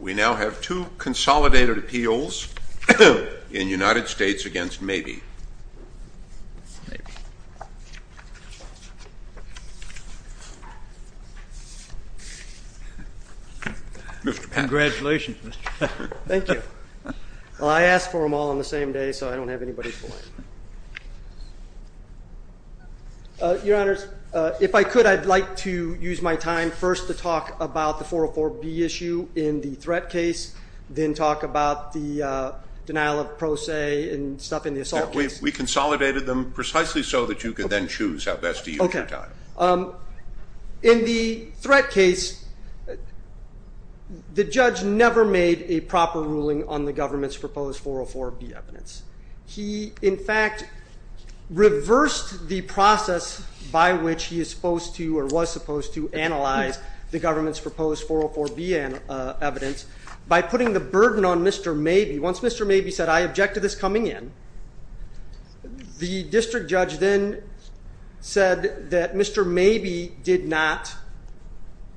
We now have two consolidated appeals in United States v. Mabie. Congratulations, Mr. Pat. Thank you. I asked for them all on the same day, so I don't have anybody's point. Your Honor, if I could, I'd like to use my time first to talk about the 404B issue in the threat case, then talk about the denial of pro se and stuff in the assault case. We consolidated them precisely so that you could then choose how best to use your time. In the threat case, the judge never made a proper ruling on the government's proposed 404B evidence. He, in fact, reversed the process by which he is supposed to or was supposed to analyze the government's proposed 404B evidence by putting the burden on Mr. Mabie. Once Mr. Mabie said, I object to this coming in, the district judge then said that Mr. Mabie did not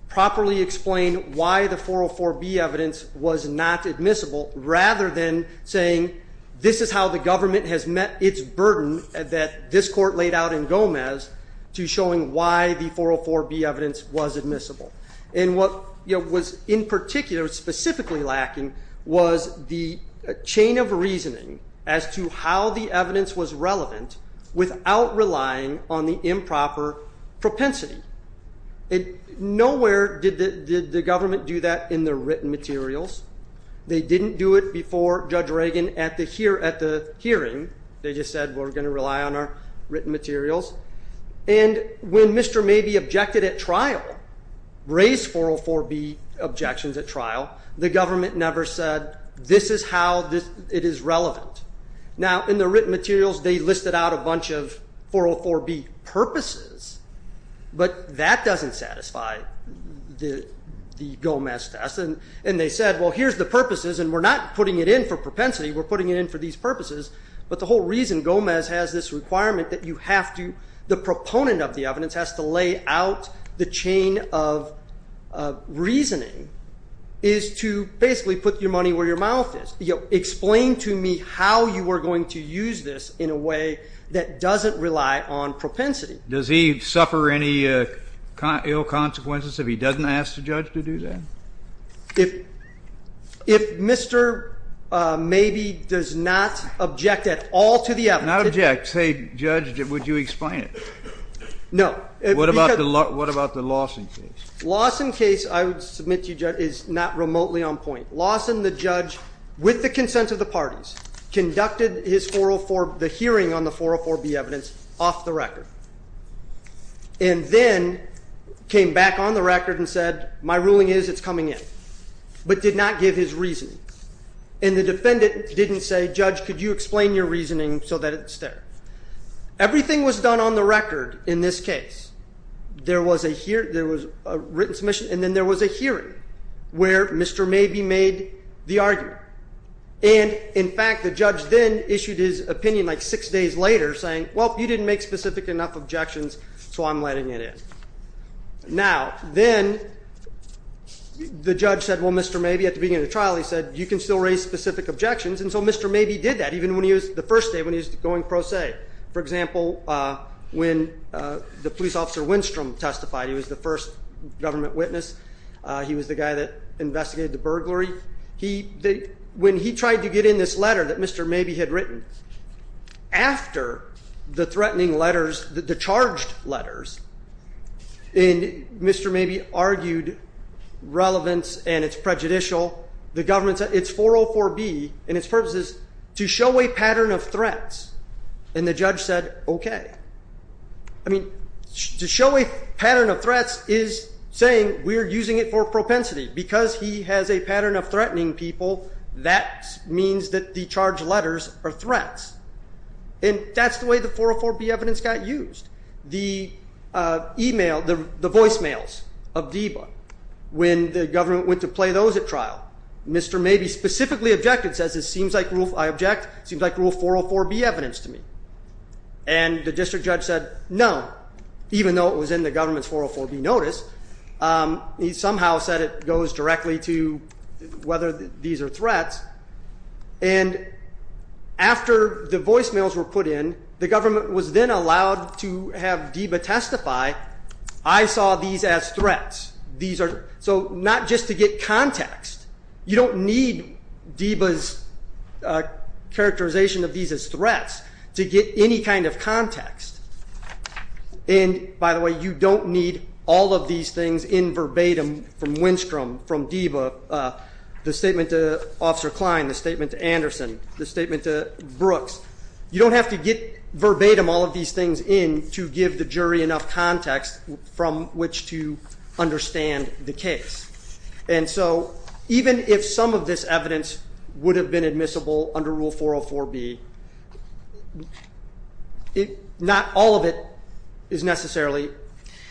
properly explain why the 404B evidence was not admissible, rather than saying this is how the government has met its burden that this court laid out in Gomez to showing why the 404B evidence was admissible. And what was in particular, specifically lacking, was the chain of reasoning as to how the evidence was relevant without relying on the improper propensity. Nowhere did the government do that in their written materials. They didn't do it before Judge Reagan at the hearing. They just said we're going to rely on our written materials. And when Mr. Mabie objected at trial, raised 404B objections at trial, the government never said this is how it is relevant. Now, in the written materials, they listed out a bunch of 404B purposes, but that doesn't satisfy the Gomez test. And they said, well, here's the purposes, and we're not putting it in for propensity. We're putting it in for these purposes. But the whole reason Gomez has this requirement that you have to, the proponent of the evidence has to lay out the chain of reasoning, is to basically put your money where your mouth is. Explain to me how you are going to use this in a way that doesn't rely on propensity. Does he suffer any ill consequences if he doesn't ask the judge to do that? If Mr. Mabie does not object at all to the evidence. Not object. Say, judge, would you explain it? No. What about the Lawson case? Lawson case, I would submit to you, Judge, is not remotely on point. Lawson, the judge, with the consent of the parties, conducted the hearing on the 404B evidence off the record. And then came back on the record and said, my ruling is it's coming in. But did not give his reasoning. And the defendant didn't say, Judge, could you explain your reasoning so that it's there. Everything was done on the record in this case. There was a written submission, and then there was a hearing where Mr. Mabie made the argument. And, in fact, the judge then issued his opinion like six days later, saying, well, you didn't make specific enough objections, so I'm letting it in. Now, then the judge said, well, Mr. Mabie, at the beginning of the trial, he said, you can still raise specific objections. And so Mr. Mabie did that, even when he was the first day, when he was going pro se. For example, when the police officer Winstrom testified, he was the first government witness. He was the guy that investigated the burglary. When he tried to get in this letter that Mr. Mabie had written, after the threatening letters, the charged letters, Mr. Mabie argued relevance and it's prejudicial. The government said it's 404B, and its purpose is to show a pattern of threats. And the judge said, OK. I mean, to show a pattern of threats is saying we're using it for propensity. Because he has a pattern of threatening people, that means that the charged letters are threats. And that's the way the 404B evidence got used. The email, the voicemails of DEBA, when the government went to play those at trial, Mr. Mabie specifically objected, says it seems like rule 404B evidence to me. And the district judge said no, even though it was in the government's 404B notice. He somehow said it goes directly to whether these are threats. And after the voicemails were put in, the government was then allowed to have DEBA testify, I saw these as threats. So not just to get context. You don't need DEBA's characterization of these as threats to get any kind of context. And by the way, you don't need all of these things in verbatim from Winstrom, from DEBA, the statement to Officer Klein, the statement to Anderson, the statement to Brooks. You don't have to get verbatim all of these things in to give the jury enough context from which to understand the case. And so even if some of this evidence would have been admissible under rule 404B, not all of it is necessarily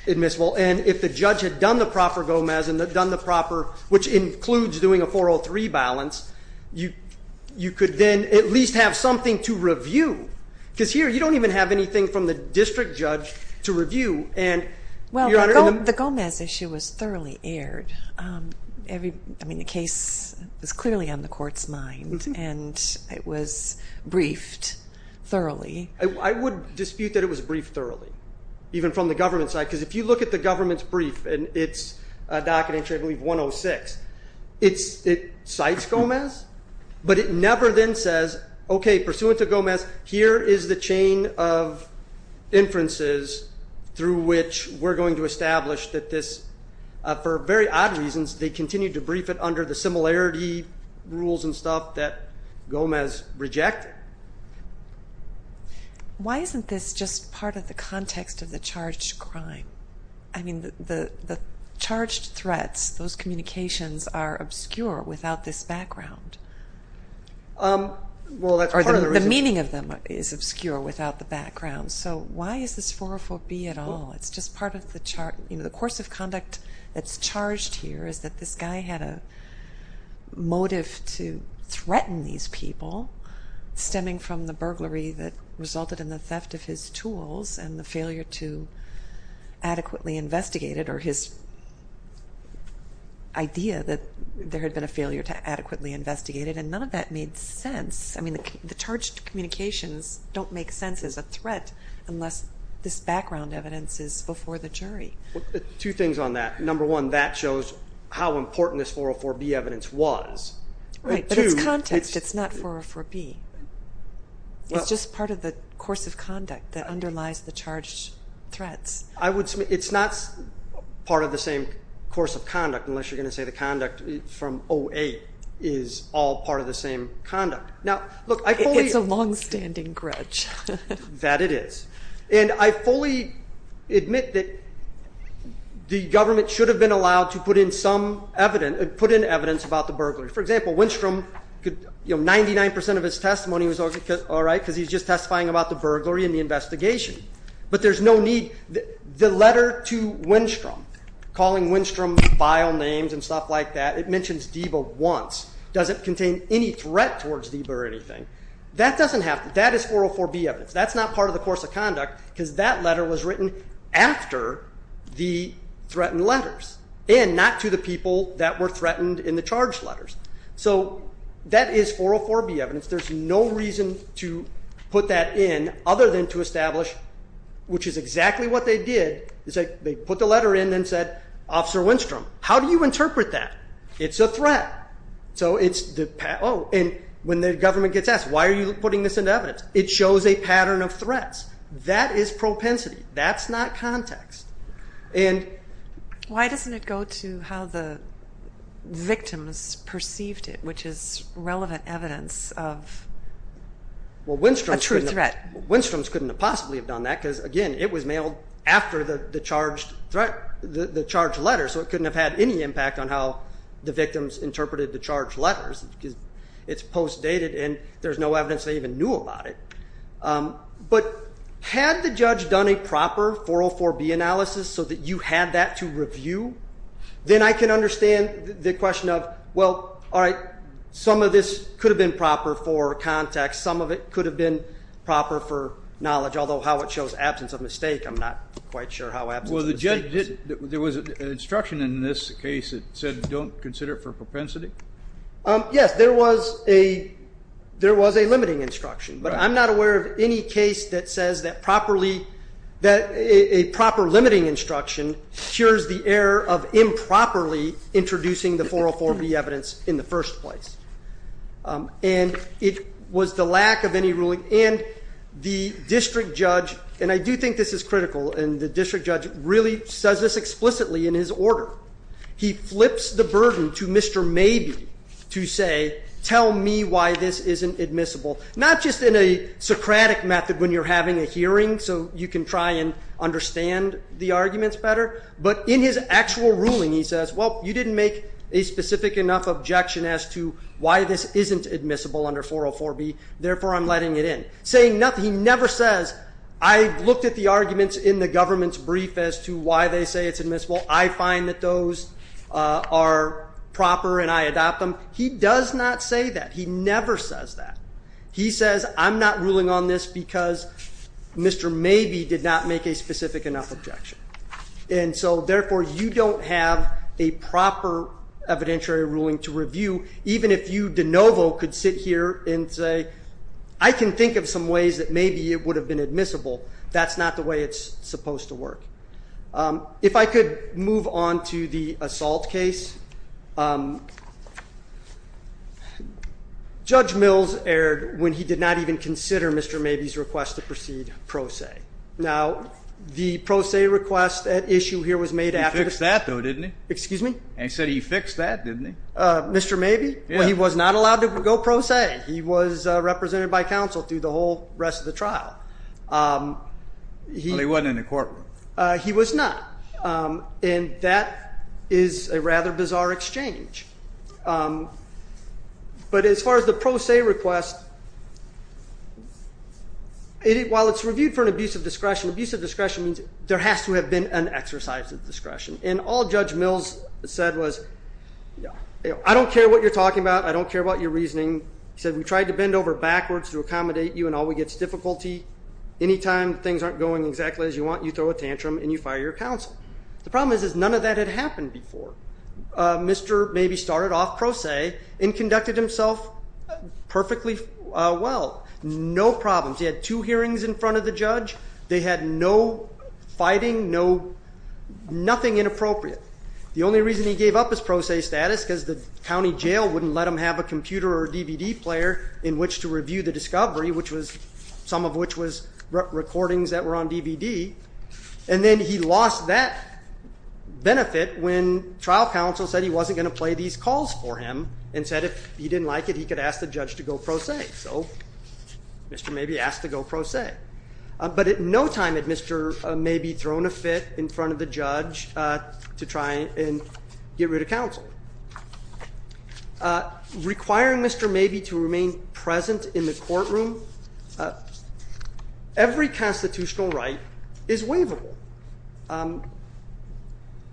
admissible. And if the judge had done the proper GOMEZ and done the proper, which includes doing a 403 balance, you could then at least have something to review. Because here you don't even have anything from the district judge to review. Well, the GOMEZ issue was thoroughly aired. I mean, the case was clearly on the court's mind, and it was briefed thoroughly. I would dispute that it was briefed thoroughly, even from the government side, because if you look at the government's brief and its docket entry, I believe 106, it cites GOMEZ, but it never then says, okay, pursuant to GOMEZ, here is the chain of inferences through which we're going to establish that this, for very odd reasons, they continued to brief it under the similarity rules and stuff that GOMEZ rejected. Why isn't this just part of the context of the charged crime? I mean, the charged threats, those communications are obscure without this background. Well, that's part of the reason. Or the meaning of them is obscure without the background. So why is this 404B at all? The course of conduct that's charged here is that this guy had a motive to threaten these people, stemming from the burglary that resulted in the theft of his tools and the failure to adequately investigate it, or his idea that there had been a failure to adequately investigate it, and none of that made sense. I mean, the charged communications don't make sense as a threat unless this background evidence is before the jury. Two things on that. Number one, that shows how important this 404B evidence was. Right, but it's context. It's not 404B. It's just part of the course of conduct that underlies the charged threats. It's not part of the same course of conduct unless you're going to say the conduct from 08 is all part of the same conduct. It's a longstanding grudge. That it is. And I fully admit that the government should have been allowed to put in some evidence, put in evidence about the burglary. For example, Winstrom, 99% of his testimony was all right because he's just testifying about the burglary and the investigation. But there's no need. The letter to Winstrom, calling Winstrom vile names and stuff like that, it mentions DEBA once, doesn't contain any threat towards DEBA or anything. That doesn't have to. That is 404B evidence. That's not part of the course of conduct because that letter was written after the threatened letters and not to the people that were threatened in the charged letters. So that is 404B evidence. There's no reason to put that in other than to establish, which is exactly what they did, is they put the letter in and said, Officer Winstrom, how do you interpret that? It's a threat. So it's, oh, and when the government gets asked, why are you putting this into evidence? It shows a pattern of threats. That is propensity. That's not context. Why doesn't it go to how the victims perceived it, which is relevant evidence of a true threat? Well, Winstrom's couldn't have possibly have done that because, again, it was mailed after the charged letter, so it couldn't have had any impact on how the victims interpreted the charged letters because it's post-dated and there's no evidence they even knew about it. But had the judge done a proper 404B analysis so that you had that to review, then I can understand the question of, well, all right, some of this could have been proper for context, some of it could have been proper for knowledge, although how it shows absence of mistake, I'm not quite sure how absence of mistake is. Well, the judge did, there was an instruction in this case that said don't consider it for propensity? Yes, there was a limiting instruction. But I'm not aware of any case that says that a proper limiting instruction cures the error of improperly introducing the 404B evidence in the first place. And it was the lack of any ruling. And the district judge, and I do think this is critical, and the district judge really says this explicitly in his order, he flips the burden to Mr. Maybe to say tell me why this isn't admissible, not just in a Socratic method when you're having a hearing so you can try and understand the arguments better, but in his actual ruling he says, well, you didn't make a specific enough objection as to why this isn't admissible under 404B, therefore I'm letting it in. Saying nothing, he never says, I looked at the arguments in the government's brief as to why they say it's admissible, I find that those are proper and I adopt them. He does not say that. He never says that. He says I'm not ruling on this because Mr. Maybe did not make a specific enough objection. And so therefore you don't have a proper evidentiary ruling to review, even if you de novo could sit here and say I can think of some ways that maybe it would have been admissible. That's not the way it's supposed to work. If I could move on to the assault case. Judge Mills erred when he did not even consider Mr. Maybe's request to proceed pro se. Now, the pro se request at issue here was made after. He fixed that, though, didn't he? Excuse me? He said he fixed that, didn't he? Mr. Maybe? Yeah. Well, he was not allowed to go pro se. He was represented by counsel through the whole rest of the trial. Well, he wasn't in the courtroom. He was not. And that is a rather bizarre exchange. But as far as the pro se request, while it's reviewed for an abuse of discretion, abuse of discretion means there has to have been an exercise of discretion. And all Judge Mills said was I don't care what you're talking about. I don't care about your reasoning. He said we tried to bend over backwards to accommodate you and all we get is difficulty. Anytime things aren't going exactly as you want, you throw a tantrum and you fire your counsel. The problem is none of that had happened before. Mr. Maybe started off pro se and conducted himself perfectly well. No problems. He had two hearings in front of the judge. They had no fighting, nothing inappropriate. The only reason he gave up his pro se status is because the county jail wouldn't let him have a computer or DVD player in which to review the discovery, some of which was recordings that were on DVD. And then he lost that benefit when trial counsel said he wasn't going to play these calls for him and said if he didn't like it, he could ask the judge to go pro se. So Mr. Maybe asked to go pro se. But at no time had Mr. Maybe thrown a fit in front of the judge to try and get rid of counsel. Requiring Mr. Maybe to remain present in the courtroom, every constitutional right is waivable,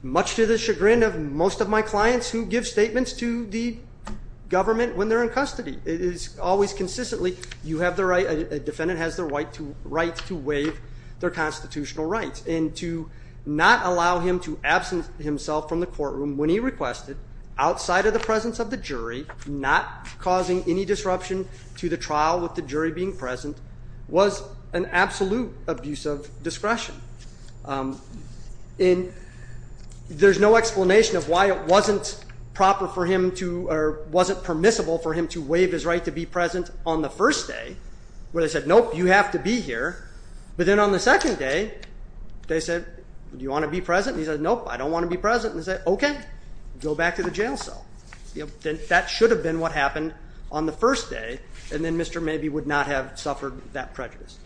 much to the chagrin of most of my clients who give statements to the government when they're in custody. It is always consistently you have the right, a defendant has the right to waive their constitutional rights. And to not allow him to absent himself from the courtroom when he requested, outside of the presence of the jury, not causing any disruption to the trial with the jury being present, was an absolute abuse of discretion. And there's no explanation of why it wasn't proper for him to, or wasn't permissible for him to waive his right to be present on the first day where they said, nope, you have to be here. But then on the second day, they said, do you want to be present? And he said, nope, I don't want to be present. And they said, okay, go back to the jail cell. That should have been what happened on the first day. And then Mr. Maybe would not have suffered that prejudice.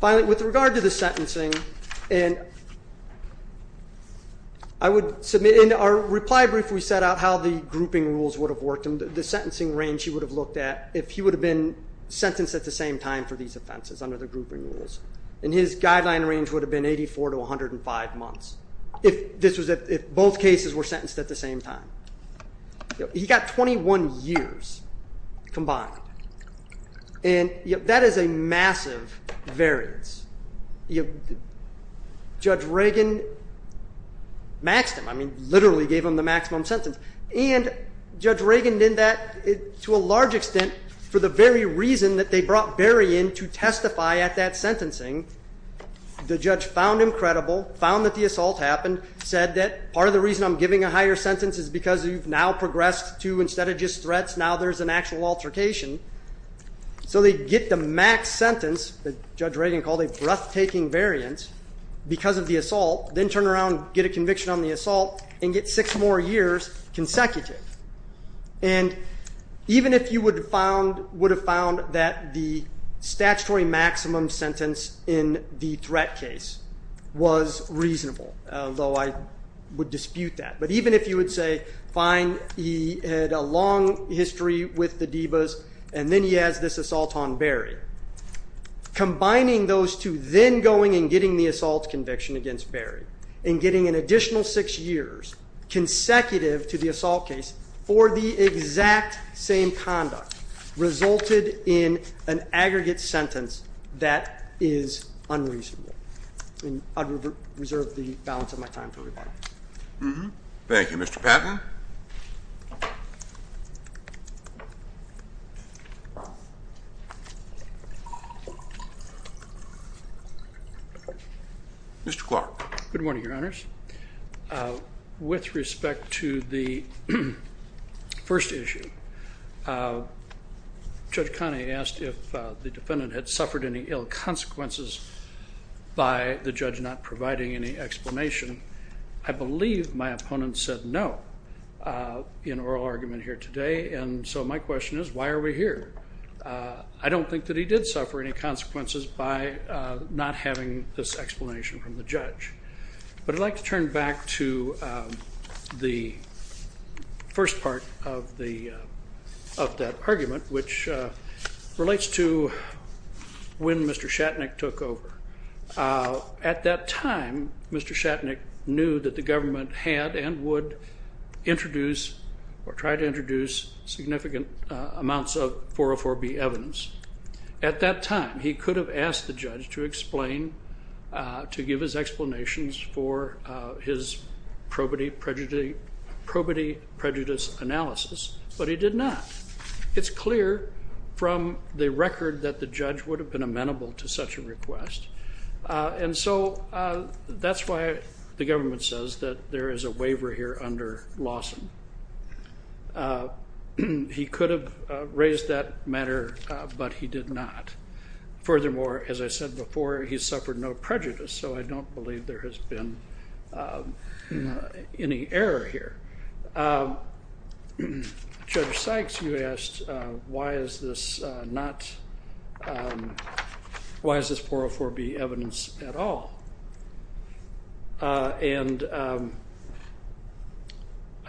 Finally, with regard to the sentencing, and I would submit, in our reply brief we set out how the grouping rules would have worked and the sentencing range he would have looked at if he would have been sentenced at the same time for these offenses under the grouping rules. And his guideline range would have been 84 to 105 months if this was, if both cases were sentenced at the same time. He got 21 years combined. And that is a massive variance. Judge Reagan maxed him. I mean, literally gave him the maximum sentence. And Judge Reagan did that to a large extent for the very reason that they brought Berry in to testify at that sentencing. The judge found him credible, found that the assault happened, said that part of the reason I'm giving a higher sentence is because you've now progressed to instead of just threats, now there's an actual altercation. So they get the max sentence that Judge Reagan called a breathtaking variance because of the assault, then turn around, get a conviction on the assault, and get six more years consecutive. And even if you would have found that the statutory maximum sentence in the threat case was reasonable, though I would dispute that. But even if you would say, fine, he had a long history with the Divas, and then he has this assault on Berry, combining those two, then going and getting the assault conviction against Berry, and getting an additional six years consecutive to the assault case for the exact same conduct resulted in an aggregate sentence that is unreasonable. I reserve the balance of my time to everybody. Thank you. Mr. Patton. Mr. Clark. Good morning, Your Honors. With respect to the first issue, Judge Connolly asked if the defendant had suffered any ill consequences by the judge not providing any explanation. I believe my opponent said no in oral argument here today. And so my question is, why are we here? I don't think that he did suffer any consequences by not having this explanation from the judge. But I'd like to turn back to the first part of that argument, which relates to when Mr. Shatnick took over. At that time, Mr. Shatnick knew that the government had and would introduce or try to introduce significant amounts of 404B evidence. At that time, he could have asked the judge to explain, to give his explanations for his probity prejudice analysis, but he did not. It's clear from the record that the judge would have been amenable to such a request. And so that's why the government says that there is a waiver here under Lawson. He could have raised that matter, but he did not. Furthermore, as I said before, he suffered no prejudice, so I don't believe there has been any error here. Judge Sykes, you asked why is this not, why is this 404B evidence at all? And I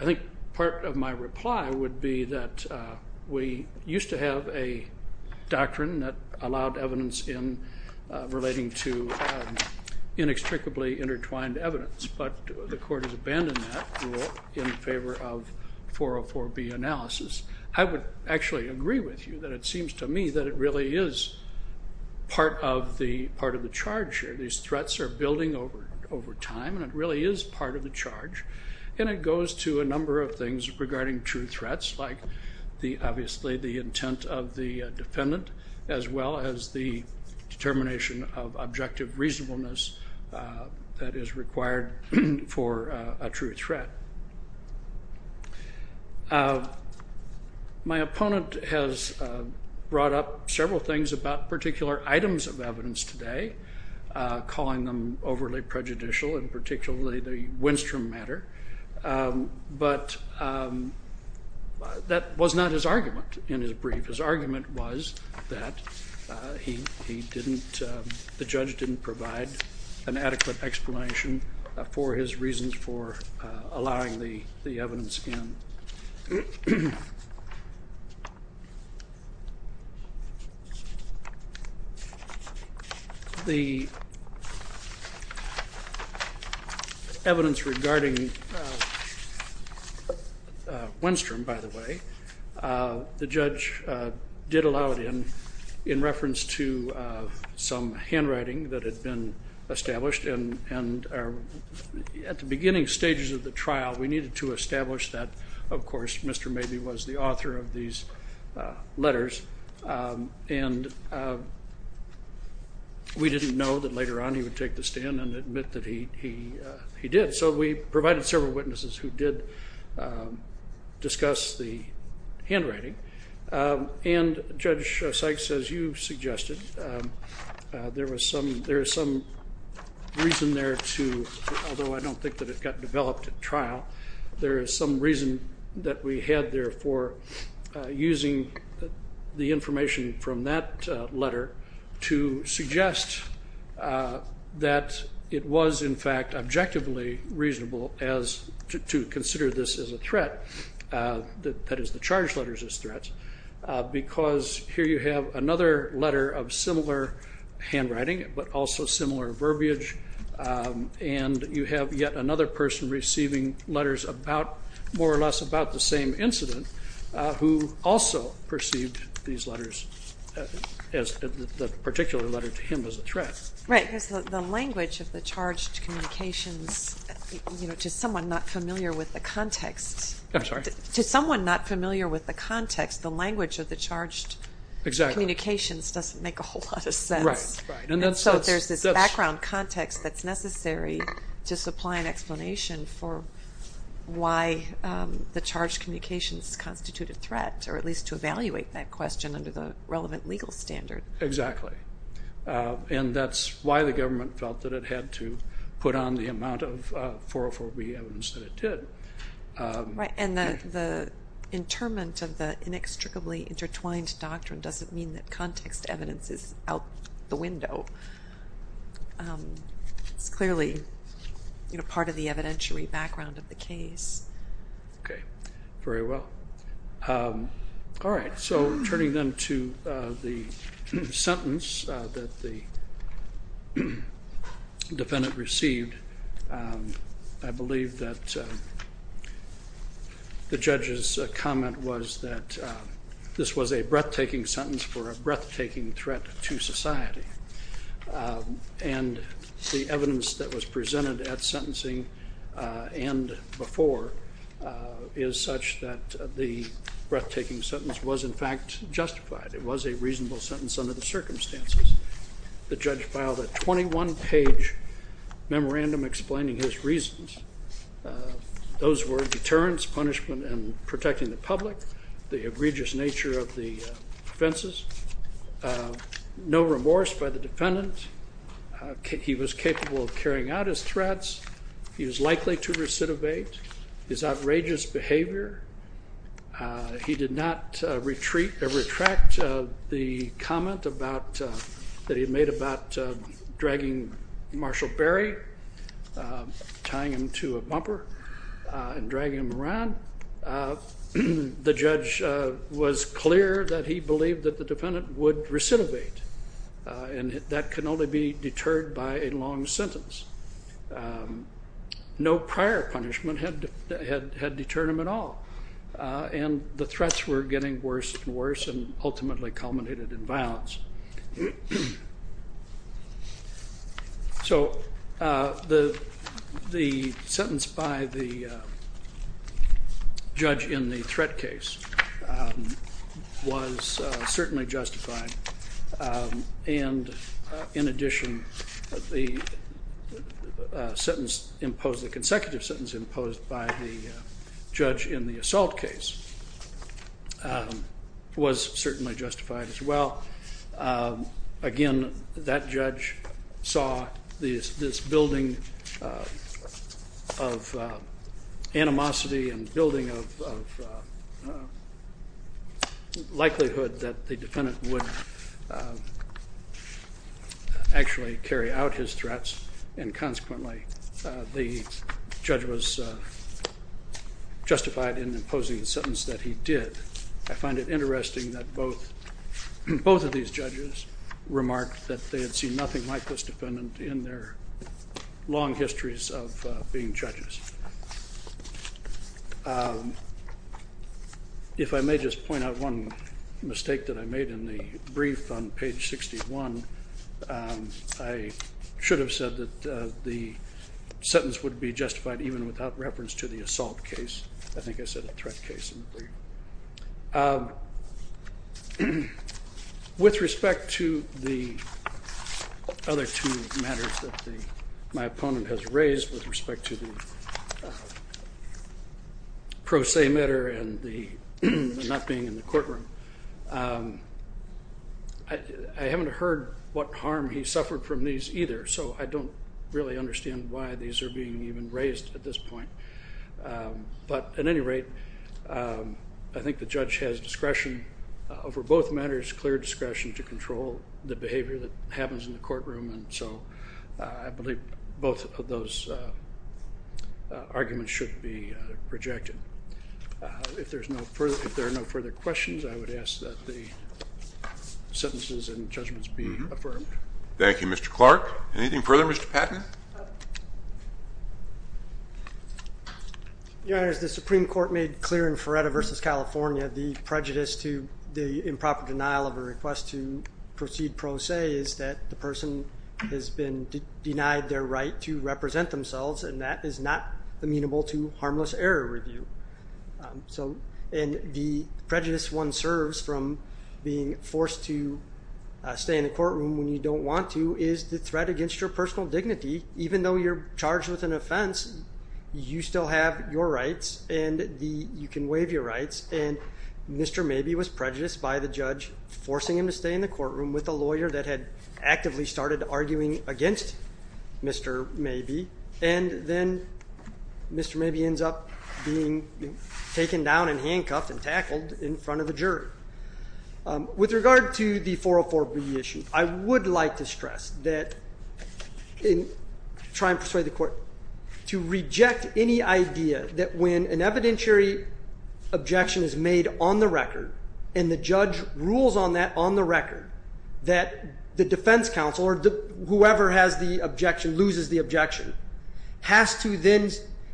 think part of my reply would be that we used to have a doctrine that allowed evidence in relating to inextricably intertwined evidence, but the court has abandoned that rule in favor of 404B analysis. I would actually agree with you that it seems to me that it really is part of the charge here. These threats are building over time, and it really is part of the charge, and it goes to a number of things regarding true threats, like obviously the intent of the defendant, as well as the determination of objective reasonableness that is required for a true threat. My opponent has brought up several things about particular items of evidence today, calling them overly prejudicial and particularly the Winstrom matter, but that was not his argument in his brief. His argument was that he didn't, the judge didn't provide an adequate explanation for his reasons for allowing the evidence in. The evidence regarding Winstrom, by the way, the judge did allow it in, in reference to some handwriting that had been established, and at the beginning stages of the trial, we needed to establish that, of course, Mr. Mabee was the author of these letters, and we didn't know that later on he would take the stand and admit that he did. So we provided several witnesses who did discuss the handwriting, and Judge Sykes, as you suggested, there was some reason there to, although I don't think that it got developed at trial, there is some reason that we had there for using the information from that letter to suggest that it was, in fact, objectively reasonable to consider this as a threat, that is the charge letters as threats, because here you have another letter of similar handwriting, but also similar verbiage, and you have yet another person receiving letters about, more or less about the same incident, who also perceived these letters as, the particular letter to him as a threat. Right, because the language of the charged communications, to someone not familiar with the context, to someone not familiar with the context, the language of the charged communications doesn't make a whole lot of sense, and so there's this background context that's necessary to supply an explanation for why the charged communications constituted threat, or at least to evaluate that question under the relevant legal standard. Exactly, and that's why the government felt that it had to put on the amount of 404B evidence that it did. Right, and the interment of the inextricably intertwined doctrine doesn't mean that context evidence is out the window. It's clearly part of the evidentiary background of the case. Okay, very well. All right, so turning then to the sentence that the defendant received, I believe that the judge's comment was that this was a breathtaking sentence for a breathtaking threat to society, and the evidence that was presented at sentencing and before is such that the breathtaking sentence was in fact justified. It was a reasonable sentence under the circumstances. The judge filed a 21-page memorandum explaining his reasons. Those were deterrence, punishment, and protecting the public, the egregious nature of the offenses, no remorse by the defendant. He was capable of carrying out his threats. He was likely to recidivate his outrageous behavior. He did not retract the comment that he had made about dragging Marshall Berry, tying him to a bumper and dragging him around. The judge was clear that he believed that the defendant would recidivate, and that can only be deterred by a long sentence. No prior punishment had deterred him at all, and the threats were getting worse and worse and ultimately culminated in violence. So the sentence by the judge in the threat case was certainly justified, and in addition, the consecutive sentence imposed by the judge in the assault case was certainly justified as well. Again, that judge saw this building of animosity and building of likelihood that the defendant would actually carry out his threats, and consequently the judge was justified in imposing the sentence that he did. I find it interesting that both of these judges remarked that they had seen nothing like this defendant in their long histories of being judges. If I may just point out one mistake that I made in the brief on page 61, I should have said that the sentence would be justified even without reference to the assault case. I think I said a threat case in the brief. With respect to the other two matters that my opponent has raised with respect to the pro se matter and the not being in the courtroom, I haven't heard what harm he suffered from these either, so I don't really understand why these are being even raised at this point. But at any rate, I think the judge has discretion over both matters, clear discretion to control the behavior that happens in the courtroom, and so I believe both of those arguments should be rejected. If there are no further questions, I would ask that the sentences and judgments be affirmed. Thank you, Mr. Clark. Anything further, Mr. Patton? Your Honor, as the Supreme Court made clear in Feretta v. California, the prejudice to the improper denial of a request to proceed pro se is that the person has been denied their right to represent themselves, and that is not amenable to harmless error review. And the prejudice one serves from being forced to stay in the courtroom when you don't want to is the threat against your personal dignity. Even though you're charged with an offense, you still have your rights, and you can waive your rights. And Mr. Mabee was prejudiced by the judge, forcing him to stay in the courtroom with a lawyer that had actively started arguing against Mr. Mabee. And then Mr. Mabee ends up being taken down and handcuffed and tackled in front of the jury. With regard to the 404b issue, I would like to stress that in trying to persuade the court to reject any idea that when an evidentiary objection is made on the record, and the judge rules on that on the record, that the defense counsel or whoever has the objection, loses the objection, has to then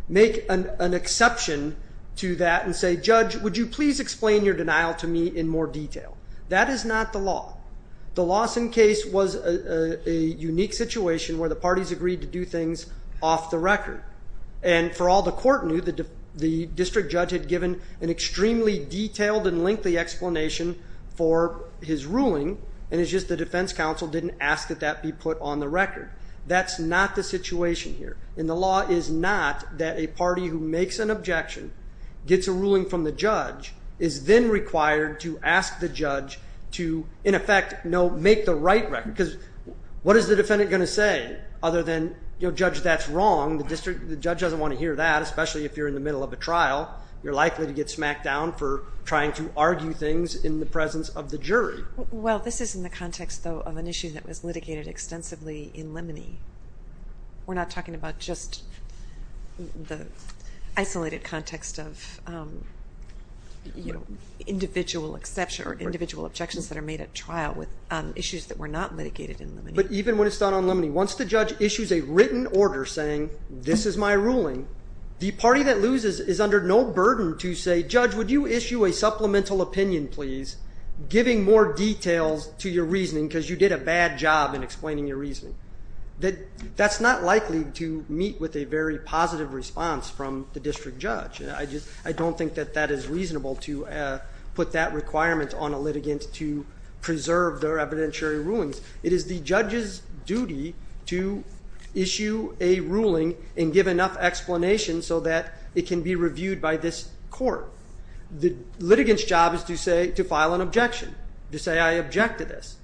make an exception to that and say, Judge, would you please explain your denial to me in more detail? That is not the law. The Lawson case was a unique situation where the parties agreed to do things off the record. And for all the court knew, the district judge had given an extremely detailed and lengthy explanation for his ruling, and it's just the defense counsel didn't ask that that be put on the record. That's not the situation here. And the law is not that a party who makes an objection, gets a ruling from the judge, is then required to ask the judge to, in effect, make the right record. Because what is the defendant going to say other than, Judge, that's wrong? The judge doesn't want to hear that, especially if you're in the middle of a trial. You're likely to get smacked down for trying to argue things in the presence of the jury. Well, this is in the context, though, of an issue that was litigated extensively in Lemony. We're not talking about just the isolated context of individual exceptions or individual objections that are made at trial with issues that were not litigated in Lemony. But even when it's done on Lemony, once the judge issues a written order saying, this is my ruling, the party that loses is under no burden to say, Judge, would you issue a supplemental opinion, please, giving more details to your reasoning because you did a bad job in explaining your reasoning. That's not likely to meet with a very positive response from the district judge. I don't think that that is reasonable to put that requirement on a litigant to preserve their evidentiary rulings. It is the judge's duty to issue a ruling and give enough explanation so that it can be reviewed by this court. The litigant's job is to file an objection, to say, I object to this.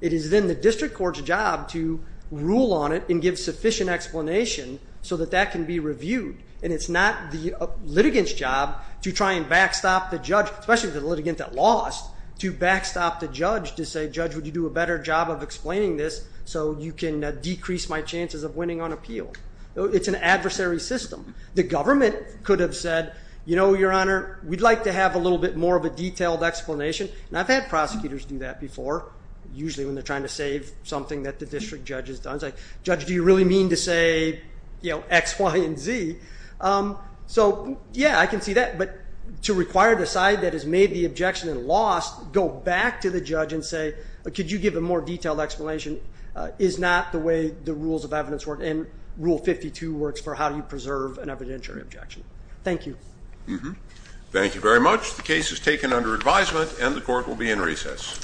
It is then the district court's job to rule on it and give sufficient explanation so that that can be reviewed. And it's not the litigant's job to try and backstop the judge, especially the litigant that lost, to backstop the judge to say, Judge, would you do a better job of explaining this so you can decrease my chances of winning on appeal? It's an adversary system. The government could have said, you know, Your Honor, we'd like to have a little bit more of a detailed explanation. And I've had prosecutors do that before, usually when they're trying to save something that the district judge has done. It's like, Judge, do you really mean to say X, Y, and Z? So, yeah, I can see that. But to require the side that has made the objection and lost go back to the judge and say, Could you give a more detailed explanation? Is not the way the rules of evidence work. And Rule 52 works for how you preserve an evidentiary objection. Thank you. Thank you very much. The case is taken under advisement and the court will be in recess.